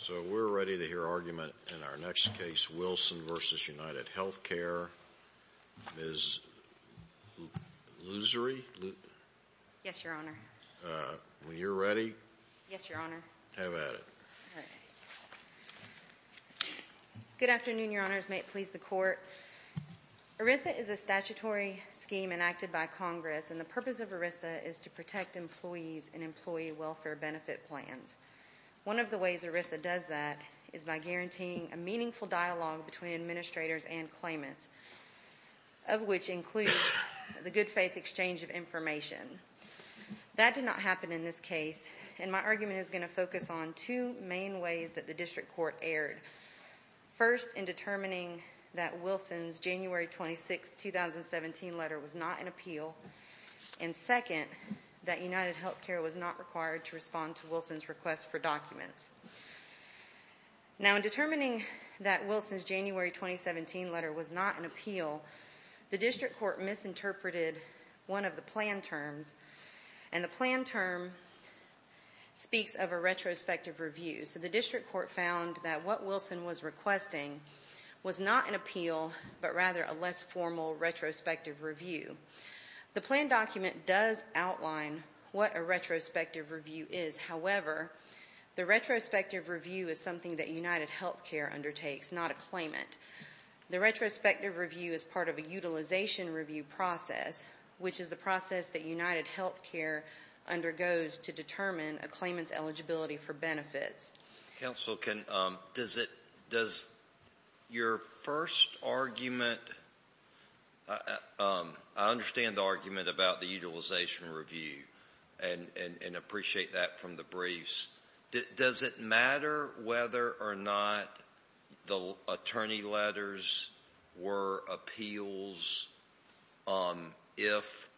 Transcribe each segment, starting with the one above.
So we're ready to hear argument in our next case, Wilson v. UnitedHealthcare. Ms. Loosery? Yes, Your Honor. When you're ready. Yes, Your Honor. Have at it. Good afternoon, Your Honors. May it please the Court. ERISA is a statutory scheme enacted by Congress, and the purpose of ERISA is to protect employees in employee welfare benefit plans. One of the ways ERISA does that is by guaranteeing a meaningful dialogue between administrators and claimants, of which includes the good-faith exchange of information. That did not happen in this case, and my argument is going to focus on two main ways that the district court erred. First, in determining that Wilson's January 26, 2017 letter was not an appeal, and second, that UnitedHealthcare was not required to respond to Wilson's request for documents. Now, in determining that Wilson's January 2017 letter was not an appeal, the district court misinterpreted one of the plan terms, and the plan term speaks of a retrospective review. So the district court found that what Wilson was requesting was not an appeal, but rather a less formal retrospective review. The plan document does outline what a retrospective review is. However, the retrospective review is something that UnitedHealthcare undertakes, not a claimant. The retrospective review is part of a utilization review process, which is the process that UnitedHealthcare undergoes to determine a claimant's eligibility for benefits. Counsel, does your first argument—I understand the argument about the utilization review and appreciate that from the briefs. Does it matter whether or not the attorney letters were appeals if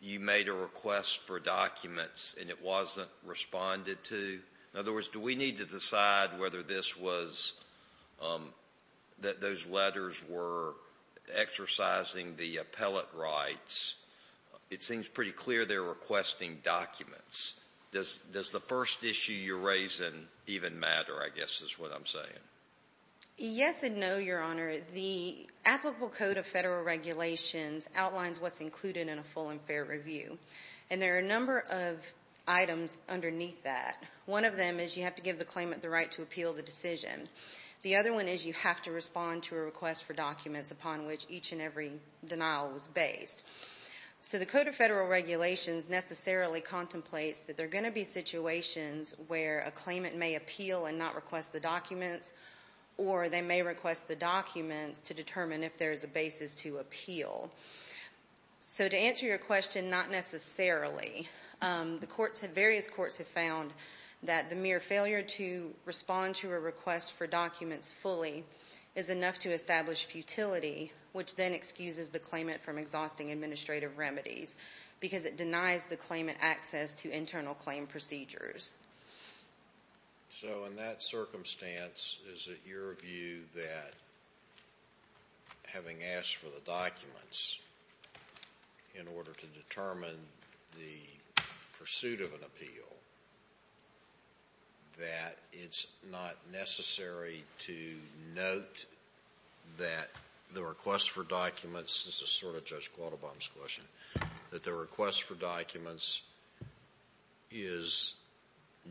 you made a request for documents and it wasn't responded to? In other words, do we need to decide whether those letters were exercising the appellate rights? It seems pretty clear they're requesting documents. Does the first issue you're raising even matter, I guess is what I'm saying? Yes and no, Your Honor. The applicable code of federal regulations outlines what's included in a full and fair review. And there are a number of items underneath that. One of them is you have to give the claimant the right to appeal the decision. The other one is you have to respond to a request for documents upon which each and every denial was based. So the code of federal regulations necessarily contemplates that there are going to be situations where a claimant may appeal and not request the documents, or they may request the documents to determine if there is a basis to appeal. So to answer your question, not necessarily. Various courts have found that the mere failure to respond to a request for documents fully is enough to establish futility, which then excuses the claimant from exhausting administrative remedies because it denies the claimant access to internal claim procedures. So in that circumstance, is it your view that having asked for the documents in order to determine the pursuit of an appeal, that it's not necessary to note that the request for documents, this is sort of Judge Quattlebaum's question, that the request for documents is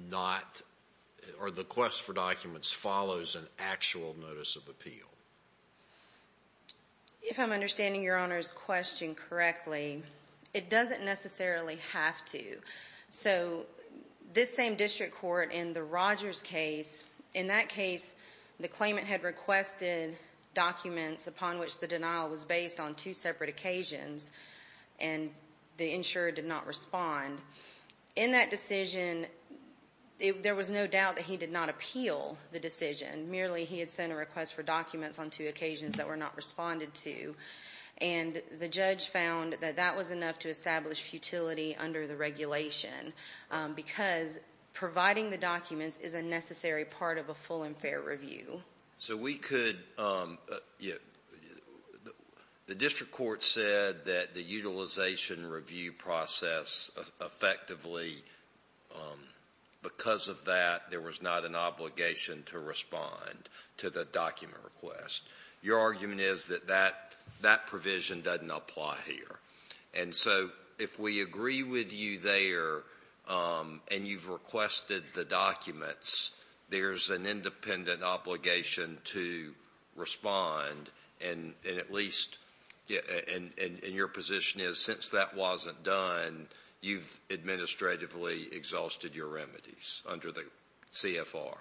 not, or the request for documents follows an actual notice of appeal? If I'm understanding Your Honor's question correctly, it doesn't necessarily have to. So this same district court in the Rogers case, in that case the claimant had requested documents upon which the denial was based on two separate occasions, and the insurer did not respond. In that decision, there was no doubt that he did not appeal the decision. Merely he had sent a request for documents on two occasions that were not responded to, and the judge found that that was enough to establish futility under the regulation because providing the documents is a necessary part of a full and fair review. So we could, the district court said that the utilization review process effectively, because of that there was not an obligation to respond to the document request. Your argument is that that provision doesn't apply here. And so if we agree with you there and you've requested the documents, there's an independent obligation to respond. And at least, and your position is since that wasn't done, you've administratively exhausted your remedies under the CFR.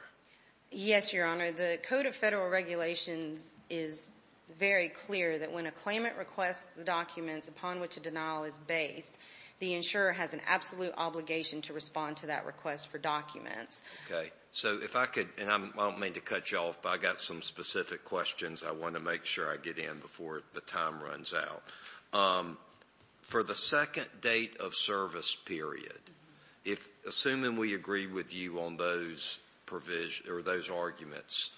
Yes, Your Honor. The Code of Federal Regulations is very clear that when a claimant requests the documents upon which a denial is based, the insurer has an absolute obligation to respond to that request for documents. Okay. So if I could, and I don't mean to cut you off, but I've got some specific questions I want to make sure I get in before the time runs out. For the second date of service period, assuming we agree with you on those arguments,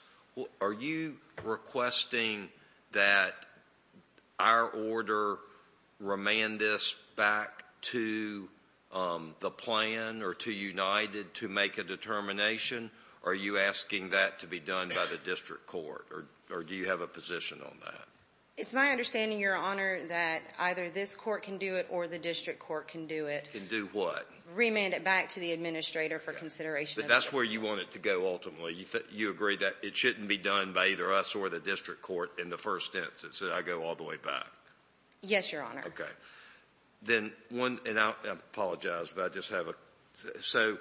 are you requesting that our order remand this back to the plan or to United to make a determination, or are you asking that to be done by the district court, or do you have a position on that? It's my understanding, Your Honor, that either this court can do it or the district court can do it. Can do what? Remand it back to the administrator for consideration. That's where you want it to go ultimately. You agree that it shouldn't be done by either us or the district court in the first instance. So I go all the way back. Yes, Your Honor. Okay. Then one, and I apologize, but I just have a, so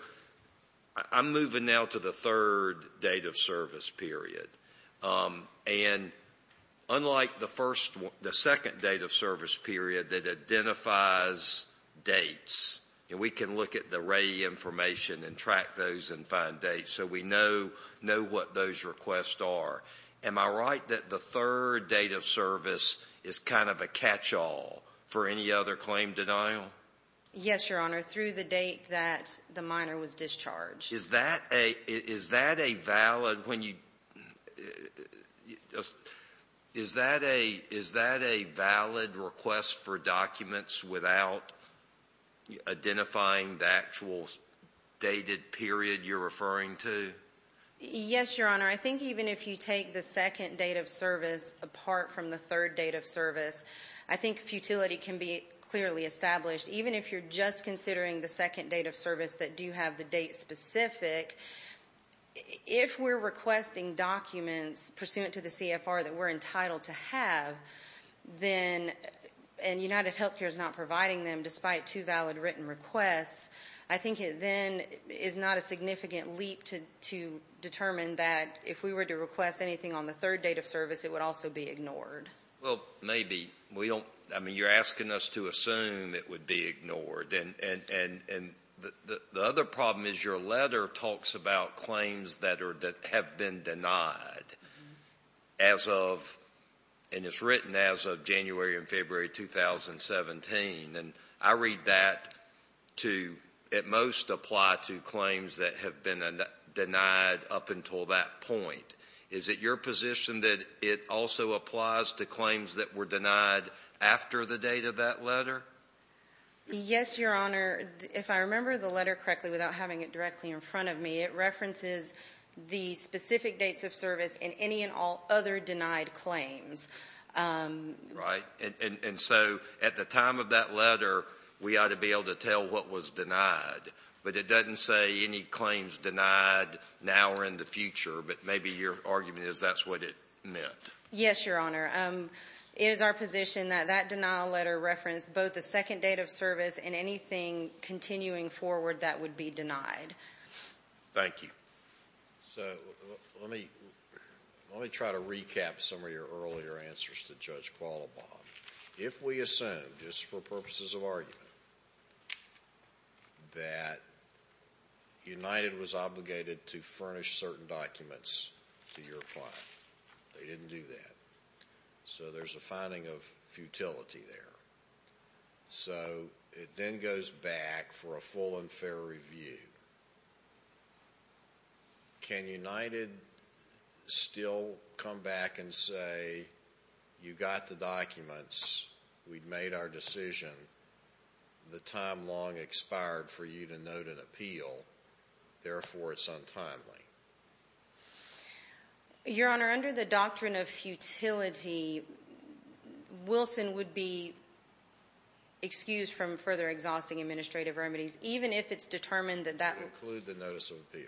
I'm moving now to the third date of service period. And unlike the second date of service period that identifies dates, and we can look at the RAE information and track those and find dates so we know what those requests are, am I right that the third date of service is kind of a catch-all for any other claim denial? Yes, Your Honor, through the date that the minor was discharged. Is that a valid request for documents without identifying the actual dated period you're referring to? Yes, Your Honor. I think even if you take the second date of service apart from the third date of service, I think futility can be clearly established. Even if you're just considering the second date of service that do have the date specific, if we're requesting documents pursuant to the CFR that we're entitled to have, and UnitedHealthcare is not providing them despite two valid written requests, I think it then is not a significant leap to determine that if we were to request anything on the third date of service, it would also be ignored. Well, maybe. I mean, you're asking us to assume it would be ignored, and the other problem is your letter talks about claims that have been denied as of, and it's written as of January and February 2017, and I read that to at most apply to claims that have been denied up until that point. Is it your position that it also applies to claims that were denied after the date of that letter? Yes, Your Honor. If I remember the letter correctly without having it directly in front of me, it references the specific dates of service and any and all other denied claims. Right. And so at the time of that letter, we ought to be able to tell what was denied, but it doesn't say any claims denied now or in the future, but maybe your argument is that's what it meant. Yes, Your Honor. It is our position that that denial letter referenced both the second date of service and anything continuing forward that would be denied. Thank you. So let me try to recap some of your earlier answers to Judge Qualibon. If we assume, just for purposes of argument, that United was obligated to furnish certain documents to your client, they didn't do that. So there's a finding of futility there. So it then goes back for a full and fair review. Can United still come back and say, you got the documents, we've made our decision, the time long expired for you to note an appeal, therefore it's untimely? Your Honor, under the doctrine of futility, Wilson would be excused from further exhausting administrative remedies, even if it's determined that that would include the notice of appeal.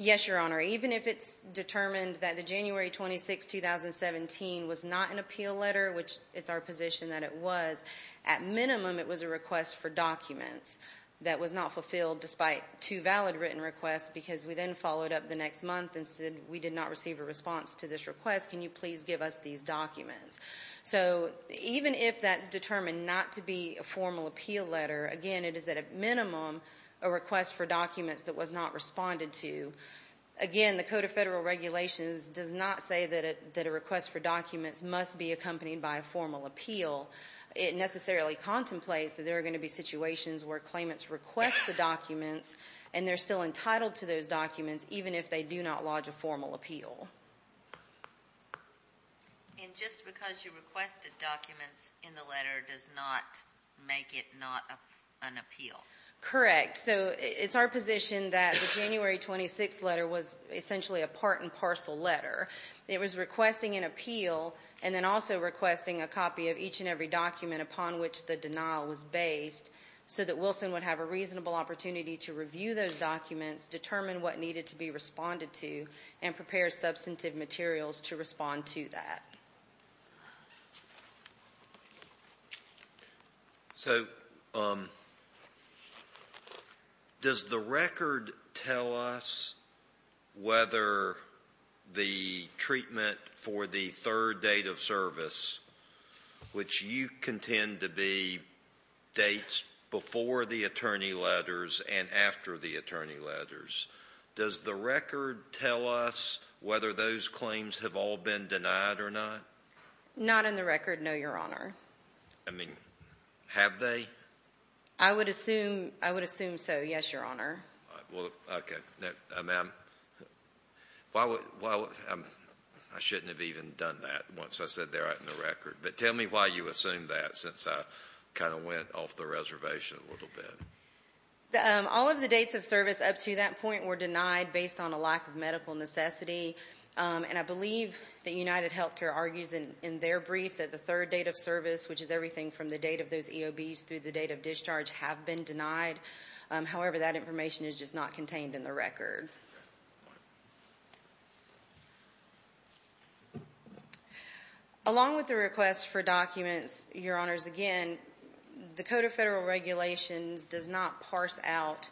Yes, Your Honor. Even if it's determined that the January 26, 2017 was not an appeal letter, which it's our position that it was, at minimum it was a request for documents that was not fulfilled despite two valid written requests because we then followed up the next month and said we did not receive a response to this request. Can you please give us these documents? So even if that's determined not to be a formal appeal letter, again it is at minimum a request for documents that was not responded to. Again, the Code of Federal Regulations does not say that a request for documents must be accompanied by a formal appeal. It necessarily contemplates that there are going to be situations where claimants request the documents and they're still entitled to those documents, even if they do not lodge a formal appeal. And just because you requested documents in the letter does not make it not an appeal? Correct. So it's our position that the January 26 letter was essentially a part and parcel letter. It was requesting an appeal and then also requesting a copy of each and every document upon which the denial was based so that Wilson would have a reasonable opportunity to review those documents, determine what needed to be responded to, and prepare substantive materials to respond to that. So does the record tell us whether the treatment for the third date of service, which you contend to be dates before the attorney letters and after the attorney letters, does the record tell us whether those claims have all been denied or not? Not in the record, no, Your Honor. I mean, have they? I would assume so, yes, Your Honor. Okay. Ma'am, I shouldn't have even done that once I said they're out in the record, but tell me why you assumed that since I kind of went off the reservation a little bit. All of the dates of service up to that point were denied based on a lack of medical necessity, and I believe that UnitedHealthcare argues in their brief that the third date of service, which is everything from the date of those EOBs through the date of discharge, have been denied. However, that information is just not contained in the record. Along with the request for documents, Your Honors, again, the Code of Federal Regulations does not parse out,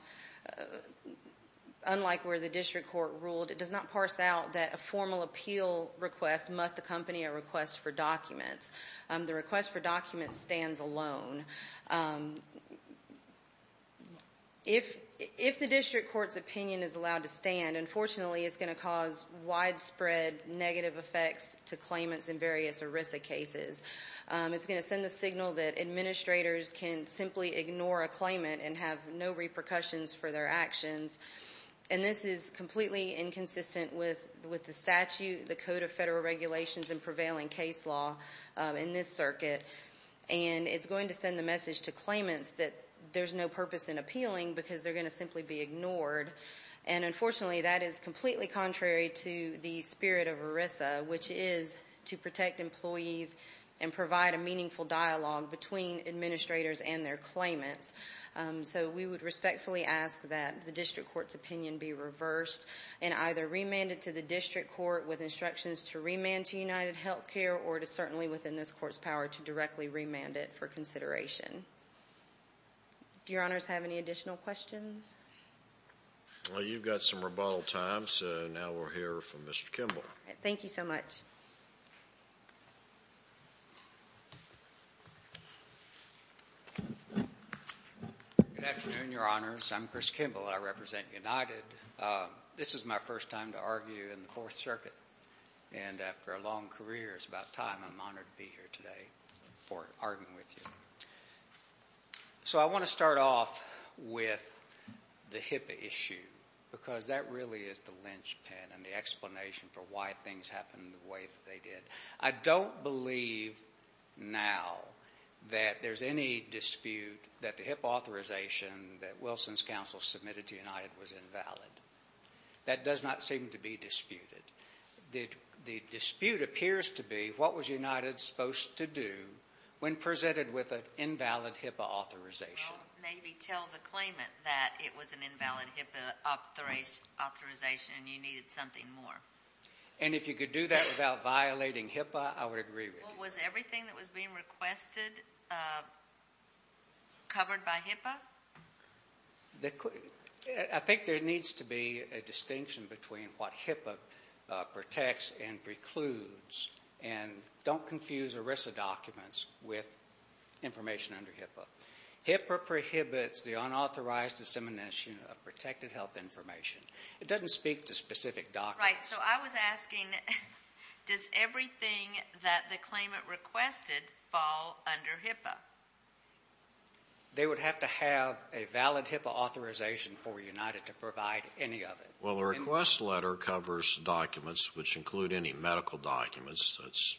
unlike where the district court ruled, it does not parse out that a formal appeal request must accompany a request for documents. The request for documents stands alone. If the district court's opinion is allowed to stand, unfortunately it's going to cause widespread negative effects to claimants in various ERISA cases. It's going to send the signal that administrators can simply ignore a claimant and have no repercussions for their actions, and this is completely inconsistent with the statute, the Code of Federal Regulations and prevailing case law in this circuit, and it's going to send the message to claimants that there's no purpose in appealing because they're going to simply be ignored, and unfortunately that is completely contrary to the spirit of ERISA, which is to protect employees and provide a meaningful dialogue between administrators and their claimants. So we would respectfully ask that the district court's opinion be reversed and either remanded to the district court with instructions to remand to UnitedHealthcare or to certainly within this court's power to directly remand it for consideration. Do Your Honors have any additional questions? Well, you've got some rebuttal time, so now we'll hear from Mr. Kimball. Thank you so much. Good afternoon, Your Honors. I'm Chris Kimball. I represent United. This is my first time to argue in the Fourth Circuit, and after a long career, it's about time I'm honored to be here today for arguing with you. So I want to start off with the HIPAA issue because that really is the linchpin and the explanation for why things happened the way that they did. I don't believe now that there's any dispute that the HIPAA authorization that Wilson's counsel submitted to United was invalid. That does not seem to be disputed. The dispute appears to be what was United supposed to do when presented with an invalid HIPAA authorization. Well, maybe tell the claimant that it was an invalid HIPAA authorization and you needed something more. And if you could do that without violating HIPAA, I would agree with you. Well, was everything that was being requested covered by HIPAA? I think there needs to be a distinction between what HIPAA protects and precludes. And don't confuse ERISA documents with information under HIPAA. HIPAA prohibits the unauthorized dissemination of protected health information. It doesn't speak to specific documents. Right, so I was asking, does everything that the claimant requested fall under HIPAA? They would have to have a valid HIPAA authorization for United to provide any of it. Well, the request letter covers documents which include any medical documents. Let's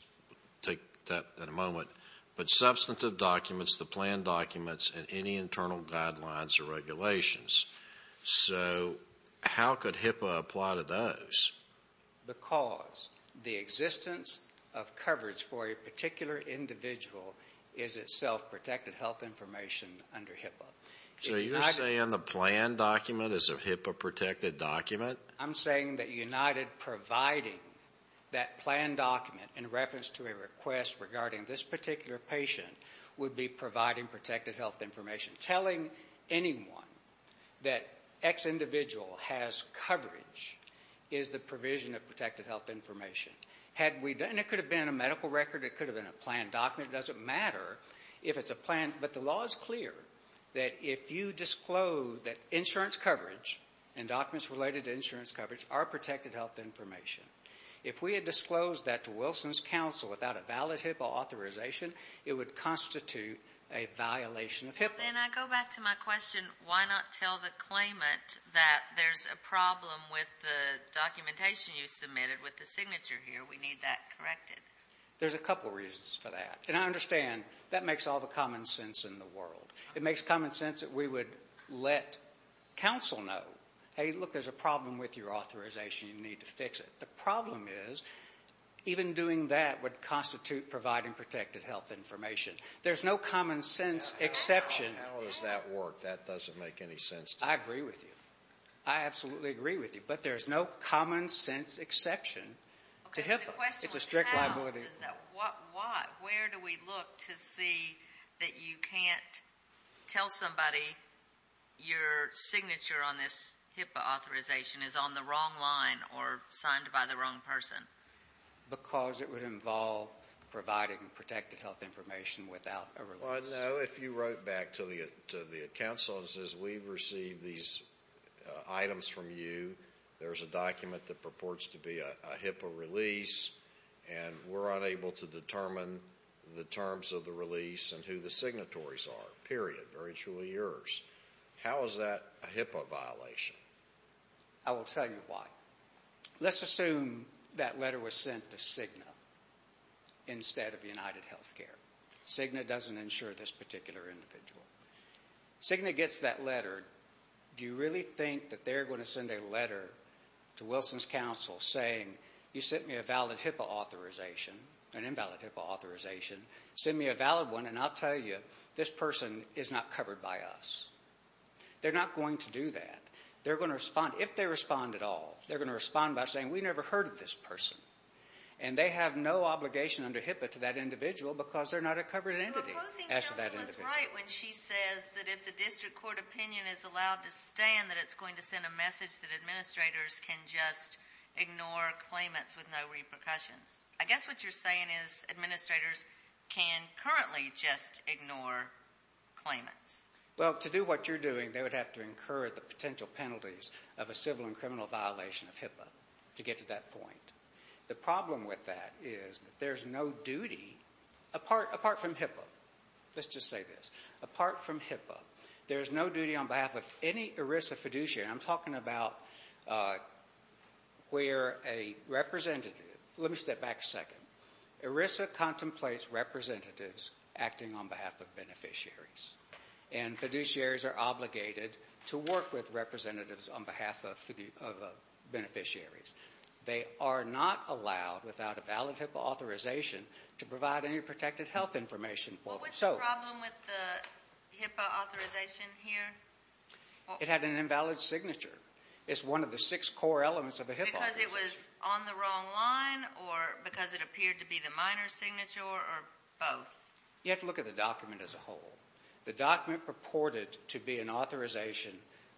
take that in a moment. But substantive documents, the plan documents, and any internal guidelines or regulations. So how could HIPAA apply to those? Because the existence of coverage for a particular individual is itself protected health information under HIPAA. So you're saying the plan document is a HIPAA-protected document? I'm saying that United providing that plan document in reference to a request regarding this particular patient would be providing protected health information. Telling anyone that X individual has coverage is the provision of protected health information. And it could have been a medical record. It could have been a plan document. It doesn't matter if it's a plan. But the law is clear that if you disclose that insurance coverage and documents related to insurance coverage are protected health information, if we had disclosed that to Wilson's counsel without a valid HIPAA authorization, it would constitute a violation of HIPAA. Then I go back to my question. Why not tell the claimant that there's a problem with the documentation you submitted with the signature here? We need that corrected. There's a couple reasons for that. And I understand that makes all the common sense in the world. It makes common sense that we would let counsel know, hey, look, there's a problem with your authorization. You need to fix it. The problem is even doing that would constitute providing protected health information. There's no common sense exception. How does that work? That doesn't make any sense to me. I agree with you. I absolutely agree with you. But there's no common sense exception to HIPAA. It's a strict liability. Where do we look to see that you can't tell somebody your signature on this HIPAA authorization is on the wrong line or signed by the wrong person? Because it would involve providing protected health information without a release. I know if you wrote back to the counsel and said, we've received these items from you. There's a document that purports to be a HIPAA release, and we're unable to determine the terms of the release and who the signatories are. Period. Very truly yours. How is that a HIPAA violation? I will tell you why. Let's assume that letter was sent to Cigna instead of UnitedHealthcare. Cigna doesn't insure this particular individual. Cigna gets that letter. Do you really think that they're going to send a letter to Wilson's counsel saying, you sent me a valid HIPAA authorization, an invalid HIPAA authorization. Send me a valid one, and I'll tell you this person is not covered by us. They're not going to do that. They're going to respond, if they respond at all, they're going to respond by saying, we never heard of this person. And they have no obligation under HIPAA to that individual because they're not a covered entity as to that individual. But Wilson's counsel was right when she says that if the district court opinion is allowed to stand, that it's going to send a message that administrators can just ignore claimants with no repercussions. I guess what you're saying is administrators can currently just ignore claimants. Well, to do what you're doing, they would have to incur the potential penalties of a civil and criminal violation of HIPAA to get to that point. The problem with that is that there's no duty apart from HIPAA. Let's just say this. Apart from HIPAA, there's no duty on behalf of any ERISA fiduciary. I'm talking about where a representative – let me step back a second. ERISA contemplates representatives acting on behalf of beneficiaries, and fiduciaries are obligated to work with representatives on behalf of beneficiaries. They are not allowed, without a valid HIPAA authorization, to provide any protected health information. What was the problem with the HIPAA authorization here? It had an invalid signature. Because it was on the wrong line, or because it appeared to be the minor signature, or both? You have to look at the document as a whole. The document purported to be an authorization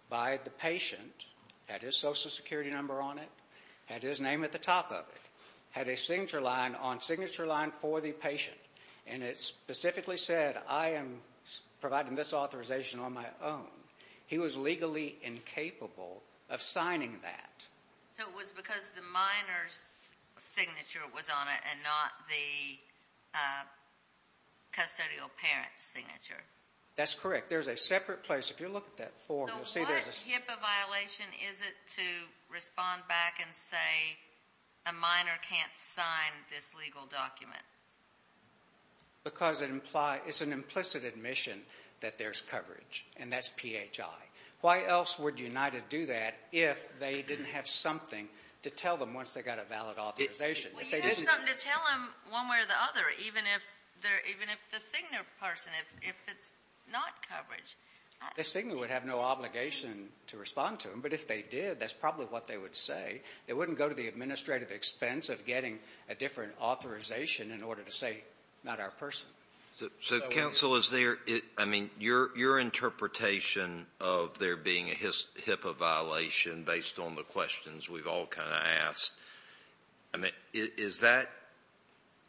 by the patient, had his Social Security number on it, had his name at the top of it, had a signature line on signature line for the patient, and it specifically said, I am providing this authorization on my own. He was legally incapable of signing that. So it was because the minor's signature was on it, and not the custodial parent's signature? That's correct. There's a separate place. If you look at that form, you'll see there's a – So what HIPAA violation is it to respond back and say, a minor can't sign this legal document? Because it's an implicit admission that there's coverage, and that's PHI. Why else would United do that if they didn't have something to tell them once they got a valid authorization? Well, you could have something to tell them one way or the other, even if they're – even if the Cigna person, if it's not coverage. The Cigna would have no obligation to respond to them. But if they did, that's probably what they would say. They wouldn't go to the administrative expense of getting a different authorization in order to say, not our person. So, counsel, is there – I mean, your interpretation of there being a HIPAA violation based on the questions we've all kind of asked, I mean, is that –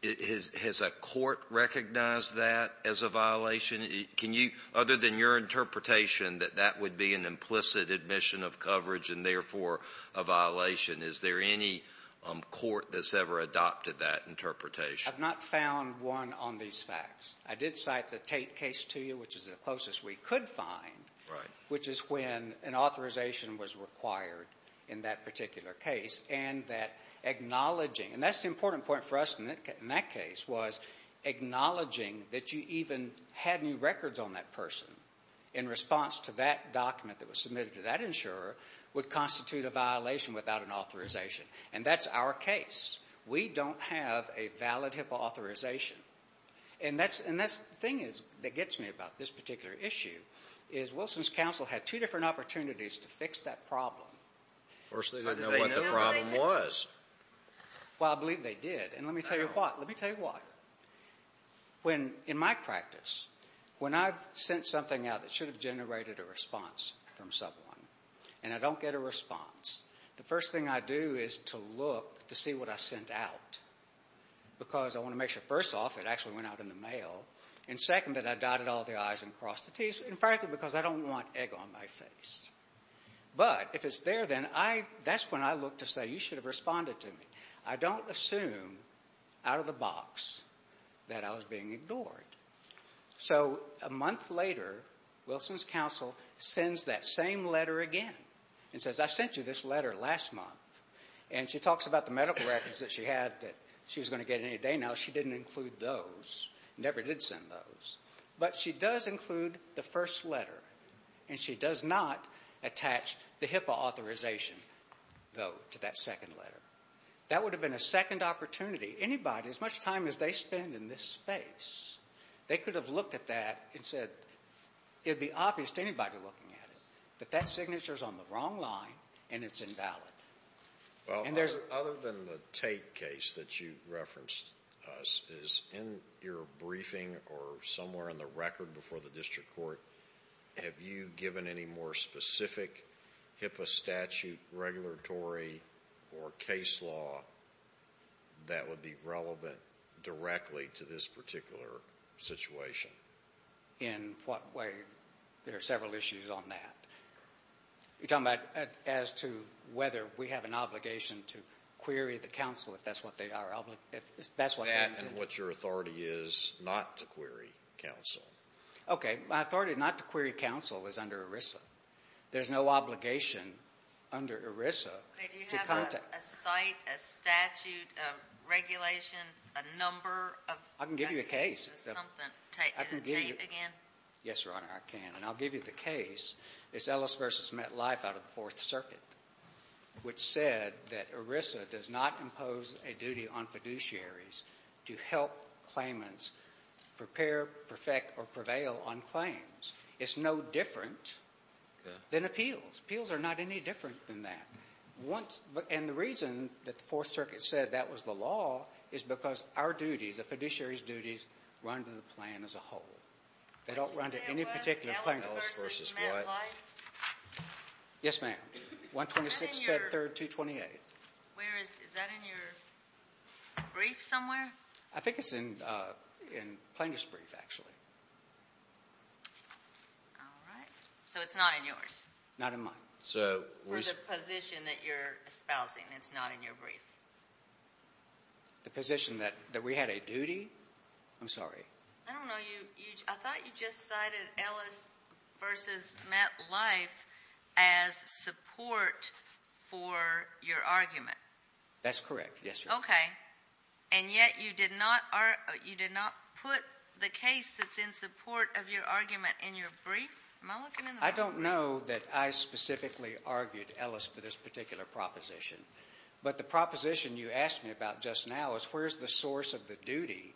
has a court recognized that as a violation? Can you – other than your interpretation that that would be an implicit admission of coverage and therefore a violation, is there any court that's ever adopted that interpretation? I've not found one on these facts. I did cite the Tate case to you, which is the closest we could find, which is when an authorization was required in that particular case. And that acknowledging – and that's the important point for us in that case, was acknowledging that you even had new records on that person in response to that document that was submitted to that insurer would constitute a violation without an authorization. And that's our case. We don't have a valid HIPAA authorization. And that's – and that's – the thing that gets me about this particular issue is Wilson's counsel had two different opportunities to fix that problem. First they didn't know what the problem was. Well, I believe they did. And let me tell you what. Let me tell you what. When – in my practice, when I've sent something out that should have generated a response from someone and I don't get a response, the first thing I do is to look to see what I sent out because I want to make sure, first off, it actually went out in the mail, and second, that I dotted all the I's and crossed the T's, in fact, because I don't want egg on my face. But if it's there, then I – that's when I look to say, you should have responded to me. I don't assume out of the box that I was being ignored. So a month later, Wilson's counsel sends that same letter again and says, I sent you this letter last month. And she talks about the medical records that she had that she was going to get any day now. She didn't include those, never did send those. But she does include the first letter, and she does not attach the HIPAA authorization, though, to that second letter. That would have been a second opportunity. Anybody, as much time as they spend in this space, they could have looked at that and said it would be obvious to anybody looking at it that that signature is on the wrong line and it's invalid. Well, other than the Tate case that you referenced, is in your briefing or somewhere in the record before the district court, have you given any more specific HIPAA statute regulatory or case law that would be relevant directly to this particular situation? In what way? There are several issues on that. You're talking about as to whether we have an obligation to query the counsel, if that's what they are obligated to. That and what your authority is not to query counsel. Okay. My authority not to query counsel is under ERISA. There's no obligation under ERISA to contact. Do you have a site, a statute, a regulation, a number? I can give you a case. Is it Tate again? Yes, Your Honor, I can. And I'll give you the case. It's Ellis v. MetLife out of the Fourth Circuit, which said that ERISA does not impose a duty on fiduciaries to help claimants prepare, perfect, or prevail on claims. It's no different than appeals. Appeals are not any different than that. And the reason that the Fourth Circuit said that was the law is because our duties, a fiduciary's duties, run to the plan as a whole. They don't run to any particular plaintiff. Is it Ellis v. MetLife? Yes, ma'am. 126 Bed 3rd, 228. Is that in your brief somewhere? I think it's in plaintiff's brief, actually. All right. So it's not in yours? Not in mine. For the position that you're espousing, it's not in your brief? The position that we had a duty? I'm sorry. I don't know. I thought you just cited Ellis v. MetLife as support for your argument. That's correct, yes, Your Honor. Okay. And yet you did not put the case that's in support of your argument in your brief? Am I looking in the wrong place? I don't know that I specifically argued Ellis for this particular proposition. But the proposition you asked me about just now is where's the source of the duty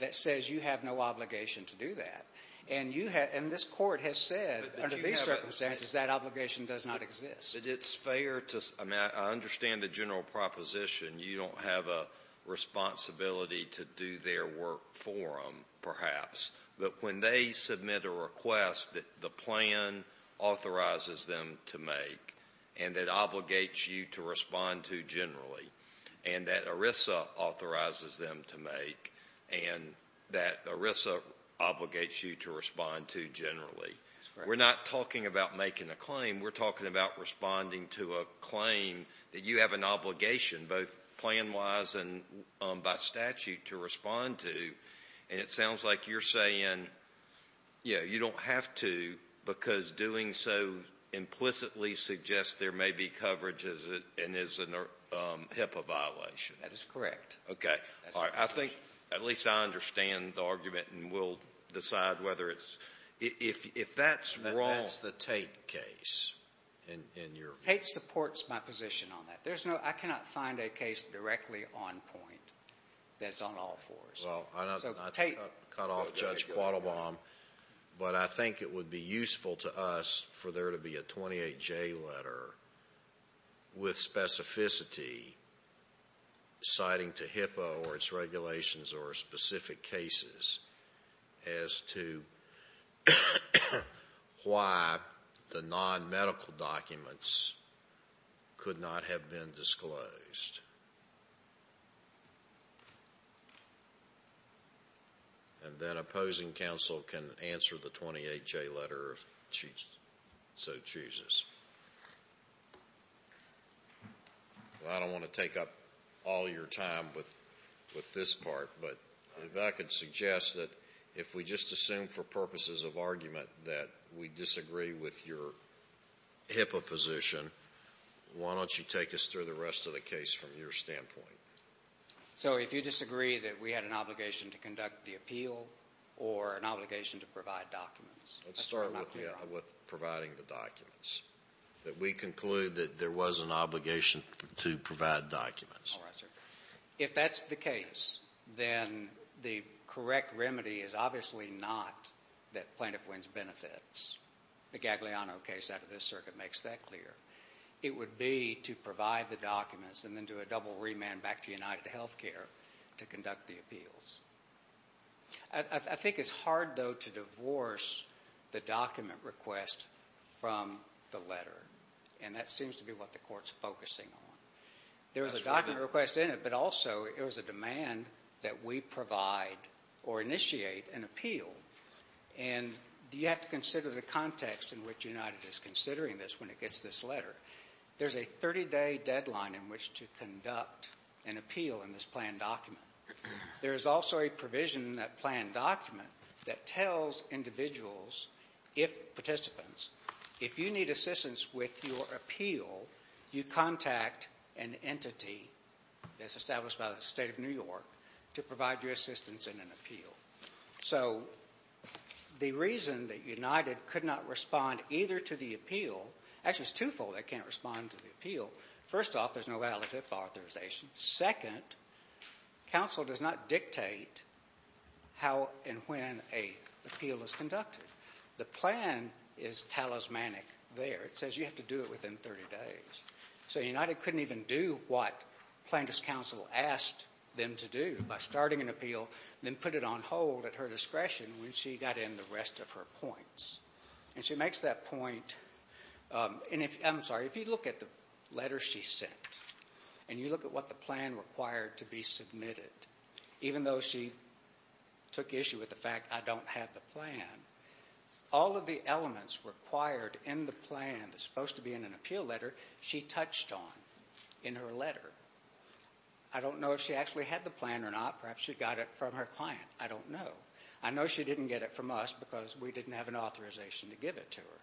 that says you have no obligation to do that? And this Court has said under these circumstances that obligation does not exist. But it's fair to – I mean, I understand the general proposition. You don't have a responsibility to do their work for them, perhaps. But when they submit a request that the plan authorizes them to make and that obligates you to respond to generally and that ERISA authorizes them to make and that ERISA obligates you to respond to generally. That's correct. We're not talking about making a claim. We're talking about responding to a claim that you have an obligation both plan-wise and by statute to respond to. And it sounds like you're saying, yeah, you don't have to because doing so implicitly suggests there may be coverage and is a HIPAA violation. That is correct. Okay. I think at least I understand the argument and we'll decide whether it's – if that's wrong. That's the Tate case in your – Tate supports my position on that. There's no – I cannot find a case directly on point that's on all fours. Well, I'm not going to cut off Judge Quattlebaum, but I think it would be useful to us for there to be a 28J letter with specificity citing to HIPAA or its regulations or specific cases as to why the non-medical documents could not have been disclosed. And then opposing counsel can answer the 28J letter if she so chooses. Well, I don't want to take up all your time with this part, but if I could suggest that if we just assume for purposes of argument that we disagree with your HIPAA position, why don't you take us through the rest of the case from your standpoint? So if you disagree that we had an obligation to conduct the appeal or an obligation to provide documents, that's not fair. Let's start with providing the documents, that we conclude that there was an obligation to provide documents. All right, sir. If that's the case, then the correct remedy is obviously not that plaintiff wins benefits. The Gagliano case out of this circuit makes that clear. It would be to provide the documents and then do a double remand back to UnitedHealthcare to conduct the appeals. I think it's hard, though, to divorce the document request from the letter, and that seems to be what the Court's focusing on. There was a document request in it, but also it was a demand that we provide or initiate an appeal, and you have to consider the context in which United is considering this when it gets this letter. There's a 30-day deadline in which to conduct an appeal in this planned document. There is also a provision in that planned document that tells individuals, if participants, if you need assistance with your appeal, you contact an entity that's established by the State of New York to provide you assistance in an appeal. So the reason that United could not respond either to the appeal, actually it's twofold they can't respond to the appeal. First off, there's no validative authorization. Second, counsel does not dictate how and when an appeal is conducted. The plan is talismanic there. It says you have to do it within 30 days. So United couldn't even do what plaintiff's counsel asked them to do by starting an appeal and then put it on hold at her discretion when she got in the rest of her points. And she makes that point. I'm sorry. If you look at the letter she sent and you look at what the plan required to be submitted, even though she took issue with the fact I don't have the plan, all of the elements required in the plan that's supposed to be in an appeal letter she touched on in her letter. I don't know if she actually had the plan or not. Perhaps she got it from her client. I don't know. I know she didn't get it from us because we didn't have an authorization to give it to her.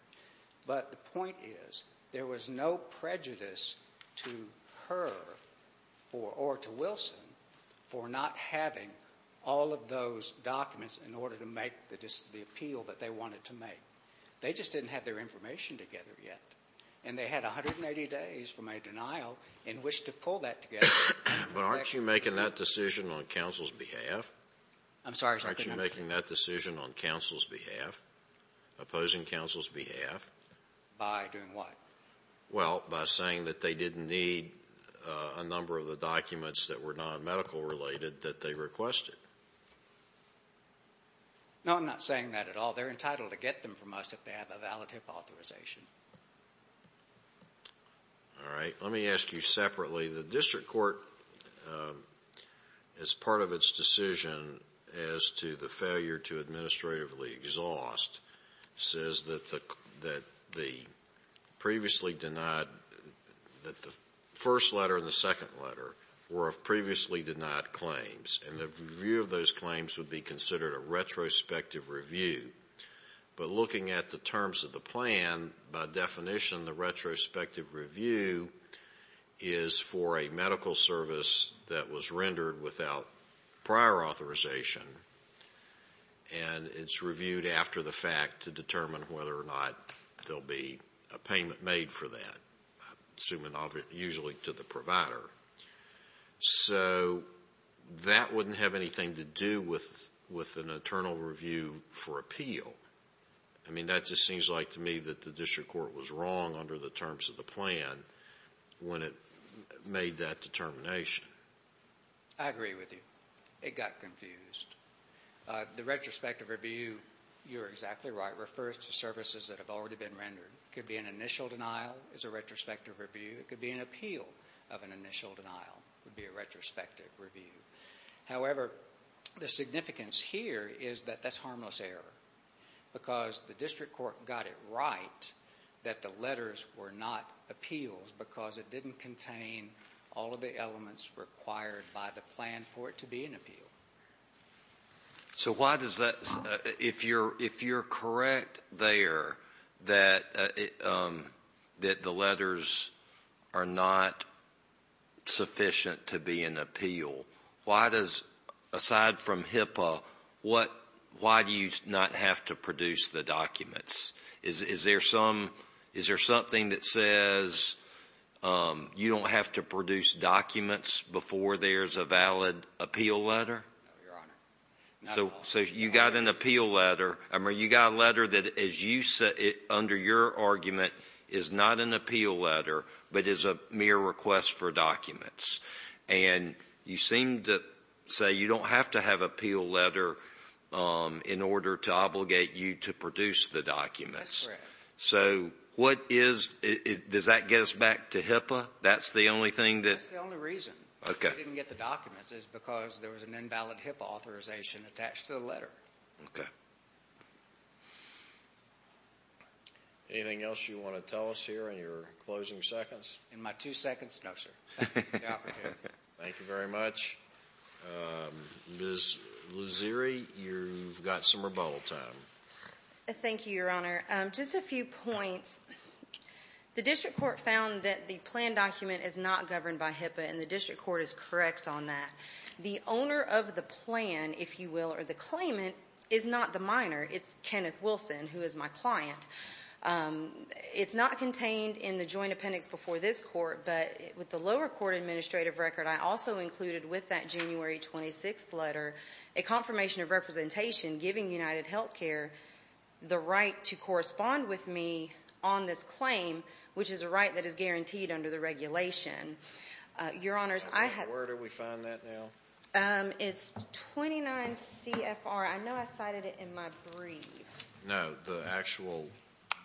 But the point is there was no prejudice to her or to Wilson for not having all of those documents in order to make the appeal that they wanted to make. They just didn't have their information together yet. And they had 180 days from a denial in which to pull that together. But aren't you making that decision on counsel's behalf? I'm sorry. Aren't you making that decision on counsel's behalf, opposing counsel's behalf? By doing what? Well, by saying that they didn't need a number of the documents that were nonmedical related that they requested. No, I'm not saying that at all. They're entitled to get them from us if they have a valid HIPAA authorization. All right. Let me ask you separately. The district court, as part of its decision as to the failure to administratively exhaust, says that the previously denied, that the first letter and the second letter were of previously denied claims. And the review of those claims would be considered a retrospective review. But looking at the terms of the plan, by definition, the retrospective review is for a medical service that was rendered without prior authorization. And it's reviewed after the fact to determine whether or not there'll be a payment made for that, assuming usually to the provider. So that wouldn't have anything to do with an internal review for appeal. I mean, that just seems like to me that the district court was wrong under the terms of the plan when it made that determination. I agree with you. It got confused. The retrospective review, you're exactly right, refers to services that have already been rendered. It could be an initial denial is a retrospective review. It could be an appeal of an initial denial would be a retrospective review. However, the significance here is that that's harmless error, because the district court got it right that the letters were not appeals because it didn't contain all of the elements required by the plan for it to be an appeal. So why does that, if you're correct there that the letters are not sufficient to be an appeal, why does, aside from HIPAA, why do you not have to produce the documents? Is there some — is there something that says you don't have to produce documents before there's a valid appeal letter? No, Your Honor. So you got an appeal letter. I mean, you got a letter that, as you said, under your argument, is not an appeal letter, but is a mere request for documents. And you seem to say you don't have to have an appeal letter in order to obligate you to produce the documents. That's correct. So what is — does that get us back to HIPAA? That's the only thing that — That's the only reason we didn't get the documents is because there was an invalid HIPAA authorization attached to the letter. Okay. Anything else you want to tell us here in your closing seconds? In my two seconds, no, sir. Thank you for the opportunity. Thank you very much. Ms. Luziri, you've got some rebuttal time. Thank you, Your Honor. Just a few points. The district court found that the plan document is not governed by HIPAA, and the district court is correct on that. The owner of the plan, if you will, or the claimant, is not the minor. It's Kenneth Wilson, who is my client. It's not contained in the joint appendix before this court, but with the lower court administrative record, I also included with that January 26th letter a confirmation of representation giving UnitedHealthcare the right to correspond with me on this claim, which is a right that is guaranteed under the regulation. Your Honors, I have — Where do we find that now? It's 29 CFR. I know I cited it in my brief. No, the actual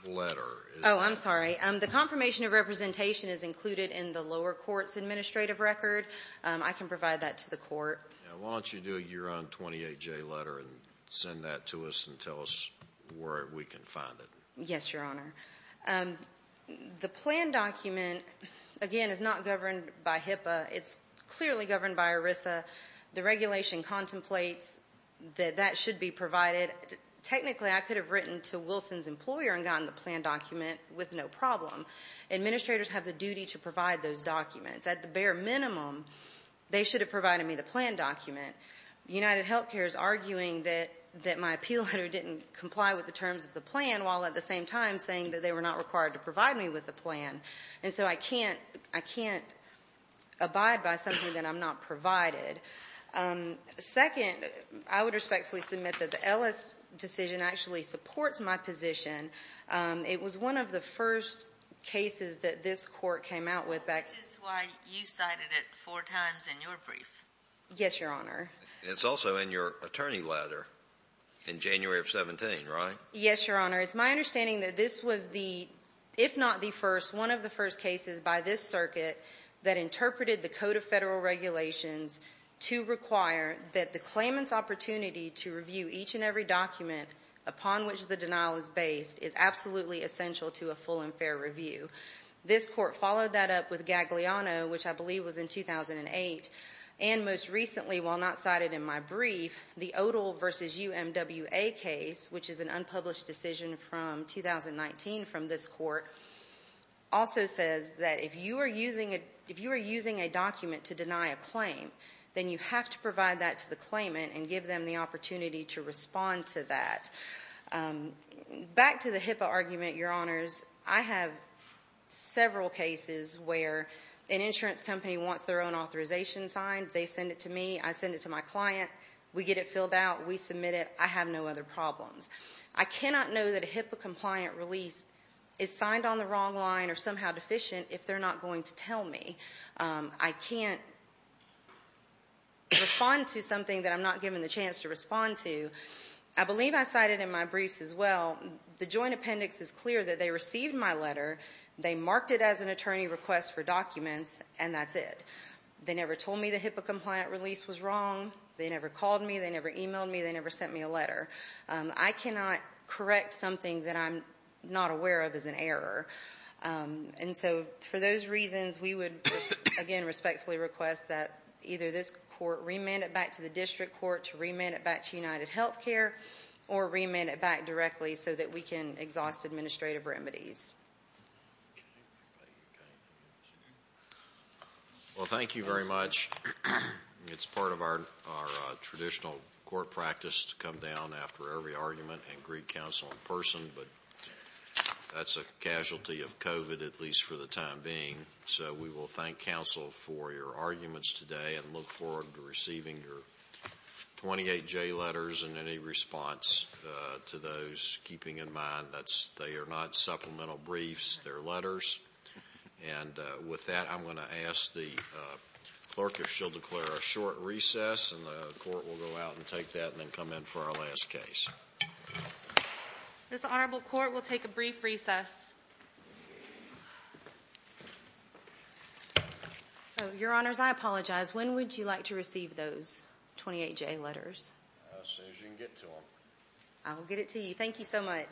letter. Oh, I'm sorry. The confirmation of representation is included in the lower court's administrative record. I can provide that to the court. Why don't you do your own 28-J letter and send that to us and tell us where we can find it. Yes, Your Honor. The plan document, again, is not governed by HIPAA. It's clearly governed by ERISA. The regulation contemplates that that should be provided. Technically, I could have written to Wilson's employer and gotten the plan document with no problem. Administrators have the duty to provide those documents. At the bare minimum, they should have provided me the plan document. UnitedHealthcare is arguing that my appeal letter didn't comply with the terms of the plan while at the same time saying that they were not required to provide me with the plan, and so I can't abide by something that I'm not provided. Second, I would respectfully submit that the Ellis decision actually supports my position. It was one of the first cases that this court came out with back to me. Which is why you cited it four times in your brief. Yes, Your Honor. And it's also in your attorney letter in January of 17, right? Yes, Your Honor. It's my understanding that this was the, if not the first, one of the first cases by this circuit that interpreted the Code of Federal Regulations to require that the claimant's opportunity to review each and every document upon which the denial is based is absolutely essential to a full and fair review. This court followed that up with Gagliano, which I believe was in 2008. And most recently, while not cited in my brief, the Odle v. UMWA case, which is an unpublished decision from 2019 from this court, also says that if you are using a document to deny a claim, then you have to provide that to the claimant and give them the opportunity to respond to that. Back to the HIPAA argument, Your Honors, I have several cases where an insurance company wants their own authorization signed. They send it to me. I send it to my client. We get it filled out. We submit it. I have no other problems. I cannot know that a HIPAA-compliant release is signed on the wrong line or somehow deficient if they're not going to tell me. I can't respond to something that I'm not given the chance to respond to. I believe I cited in my briefs as well, the joint appendix is clear that they received my letter. They marked it as an attorney request for documents, and that's it. They never told me the HIPAA-compliant release was wrong. They never called me. They never emailed me. They never sent me a letter. I cannot correct something that I'm not aware of as an error. And so for those reasons, we would, again, respectfully request that either this court remand it back to the district court to remand it back to UnitedHealthcare or remand it back directly so that we can exhaust administrative remedies. Well, thank you very much. It's part of our traditional court practice to come down after every argument and greet counsel in person, but that's a casualty of COVID, at least for the time being. So we will thank counsel for your arguments today and look forward to receiving your 28J letters and any response to those, keeping in mind that they are not supplemental briefs. They're letters. And with that, I'm going to ask the clerk if she'll declare a short recess, and the court will go out and take that and then come in for our last case. This honorable court will take a brief recess. Your Honors, I apologize. When would you like to receive those 28J letters? As soon as you can get to them. I will get it to you. Thank you so much.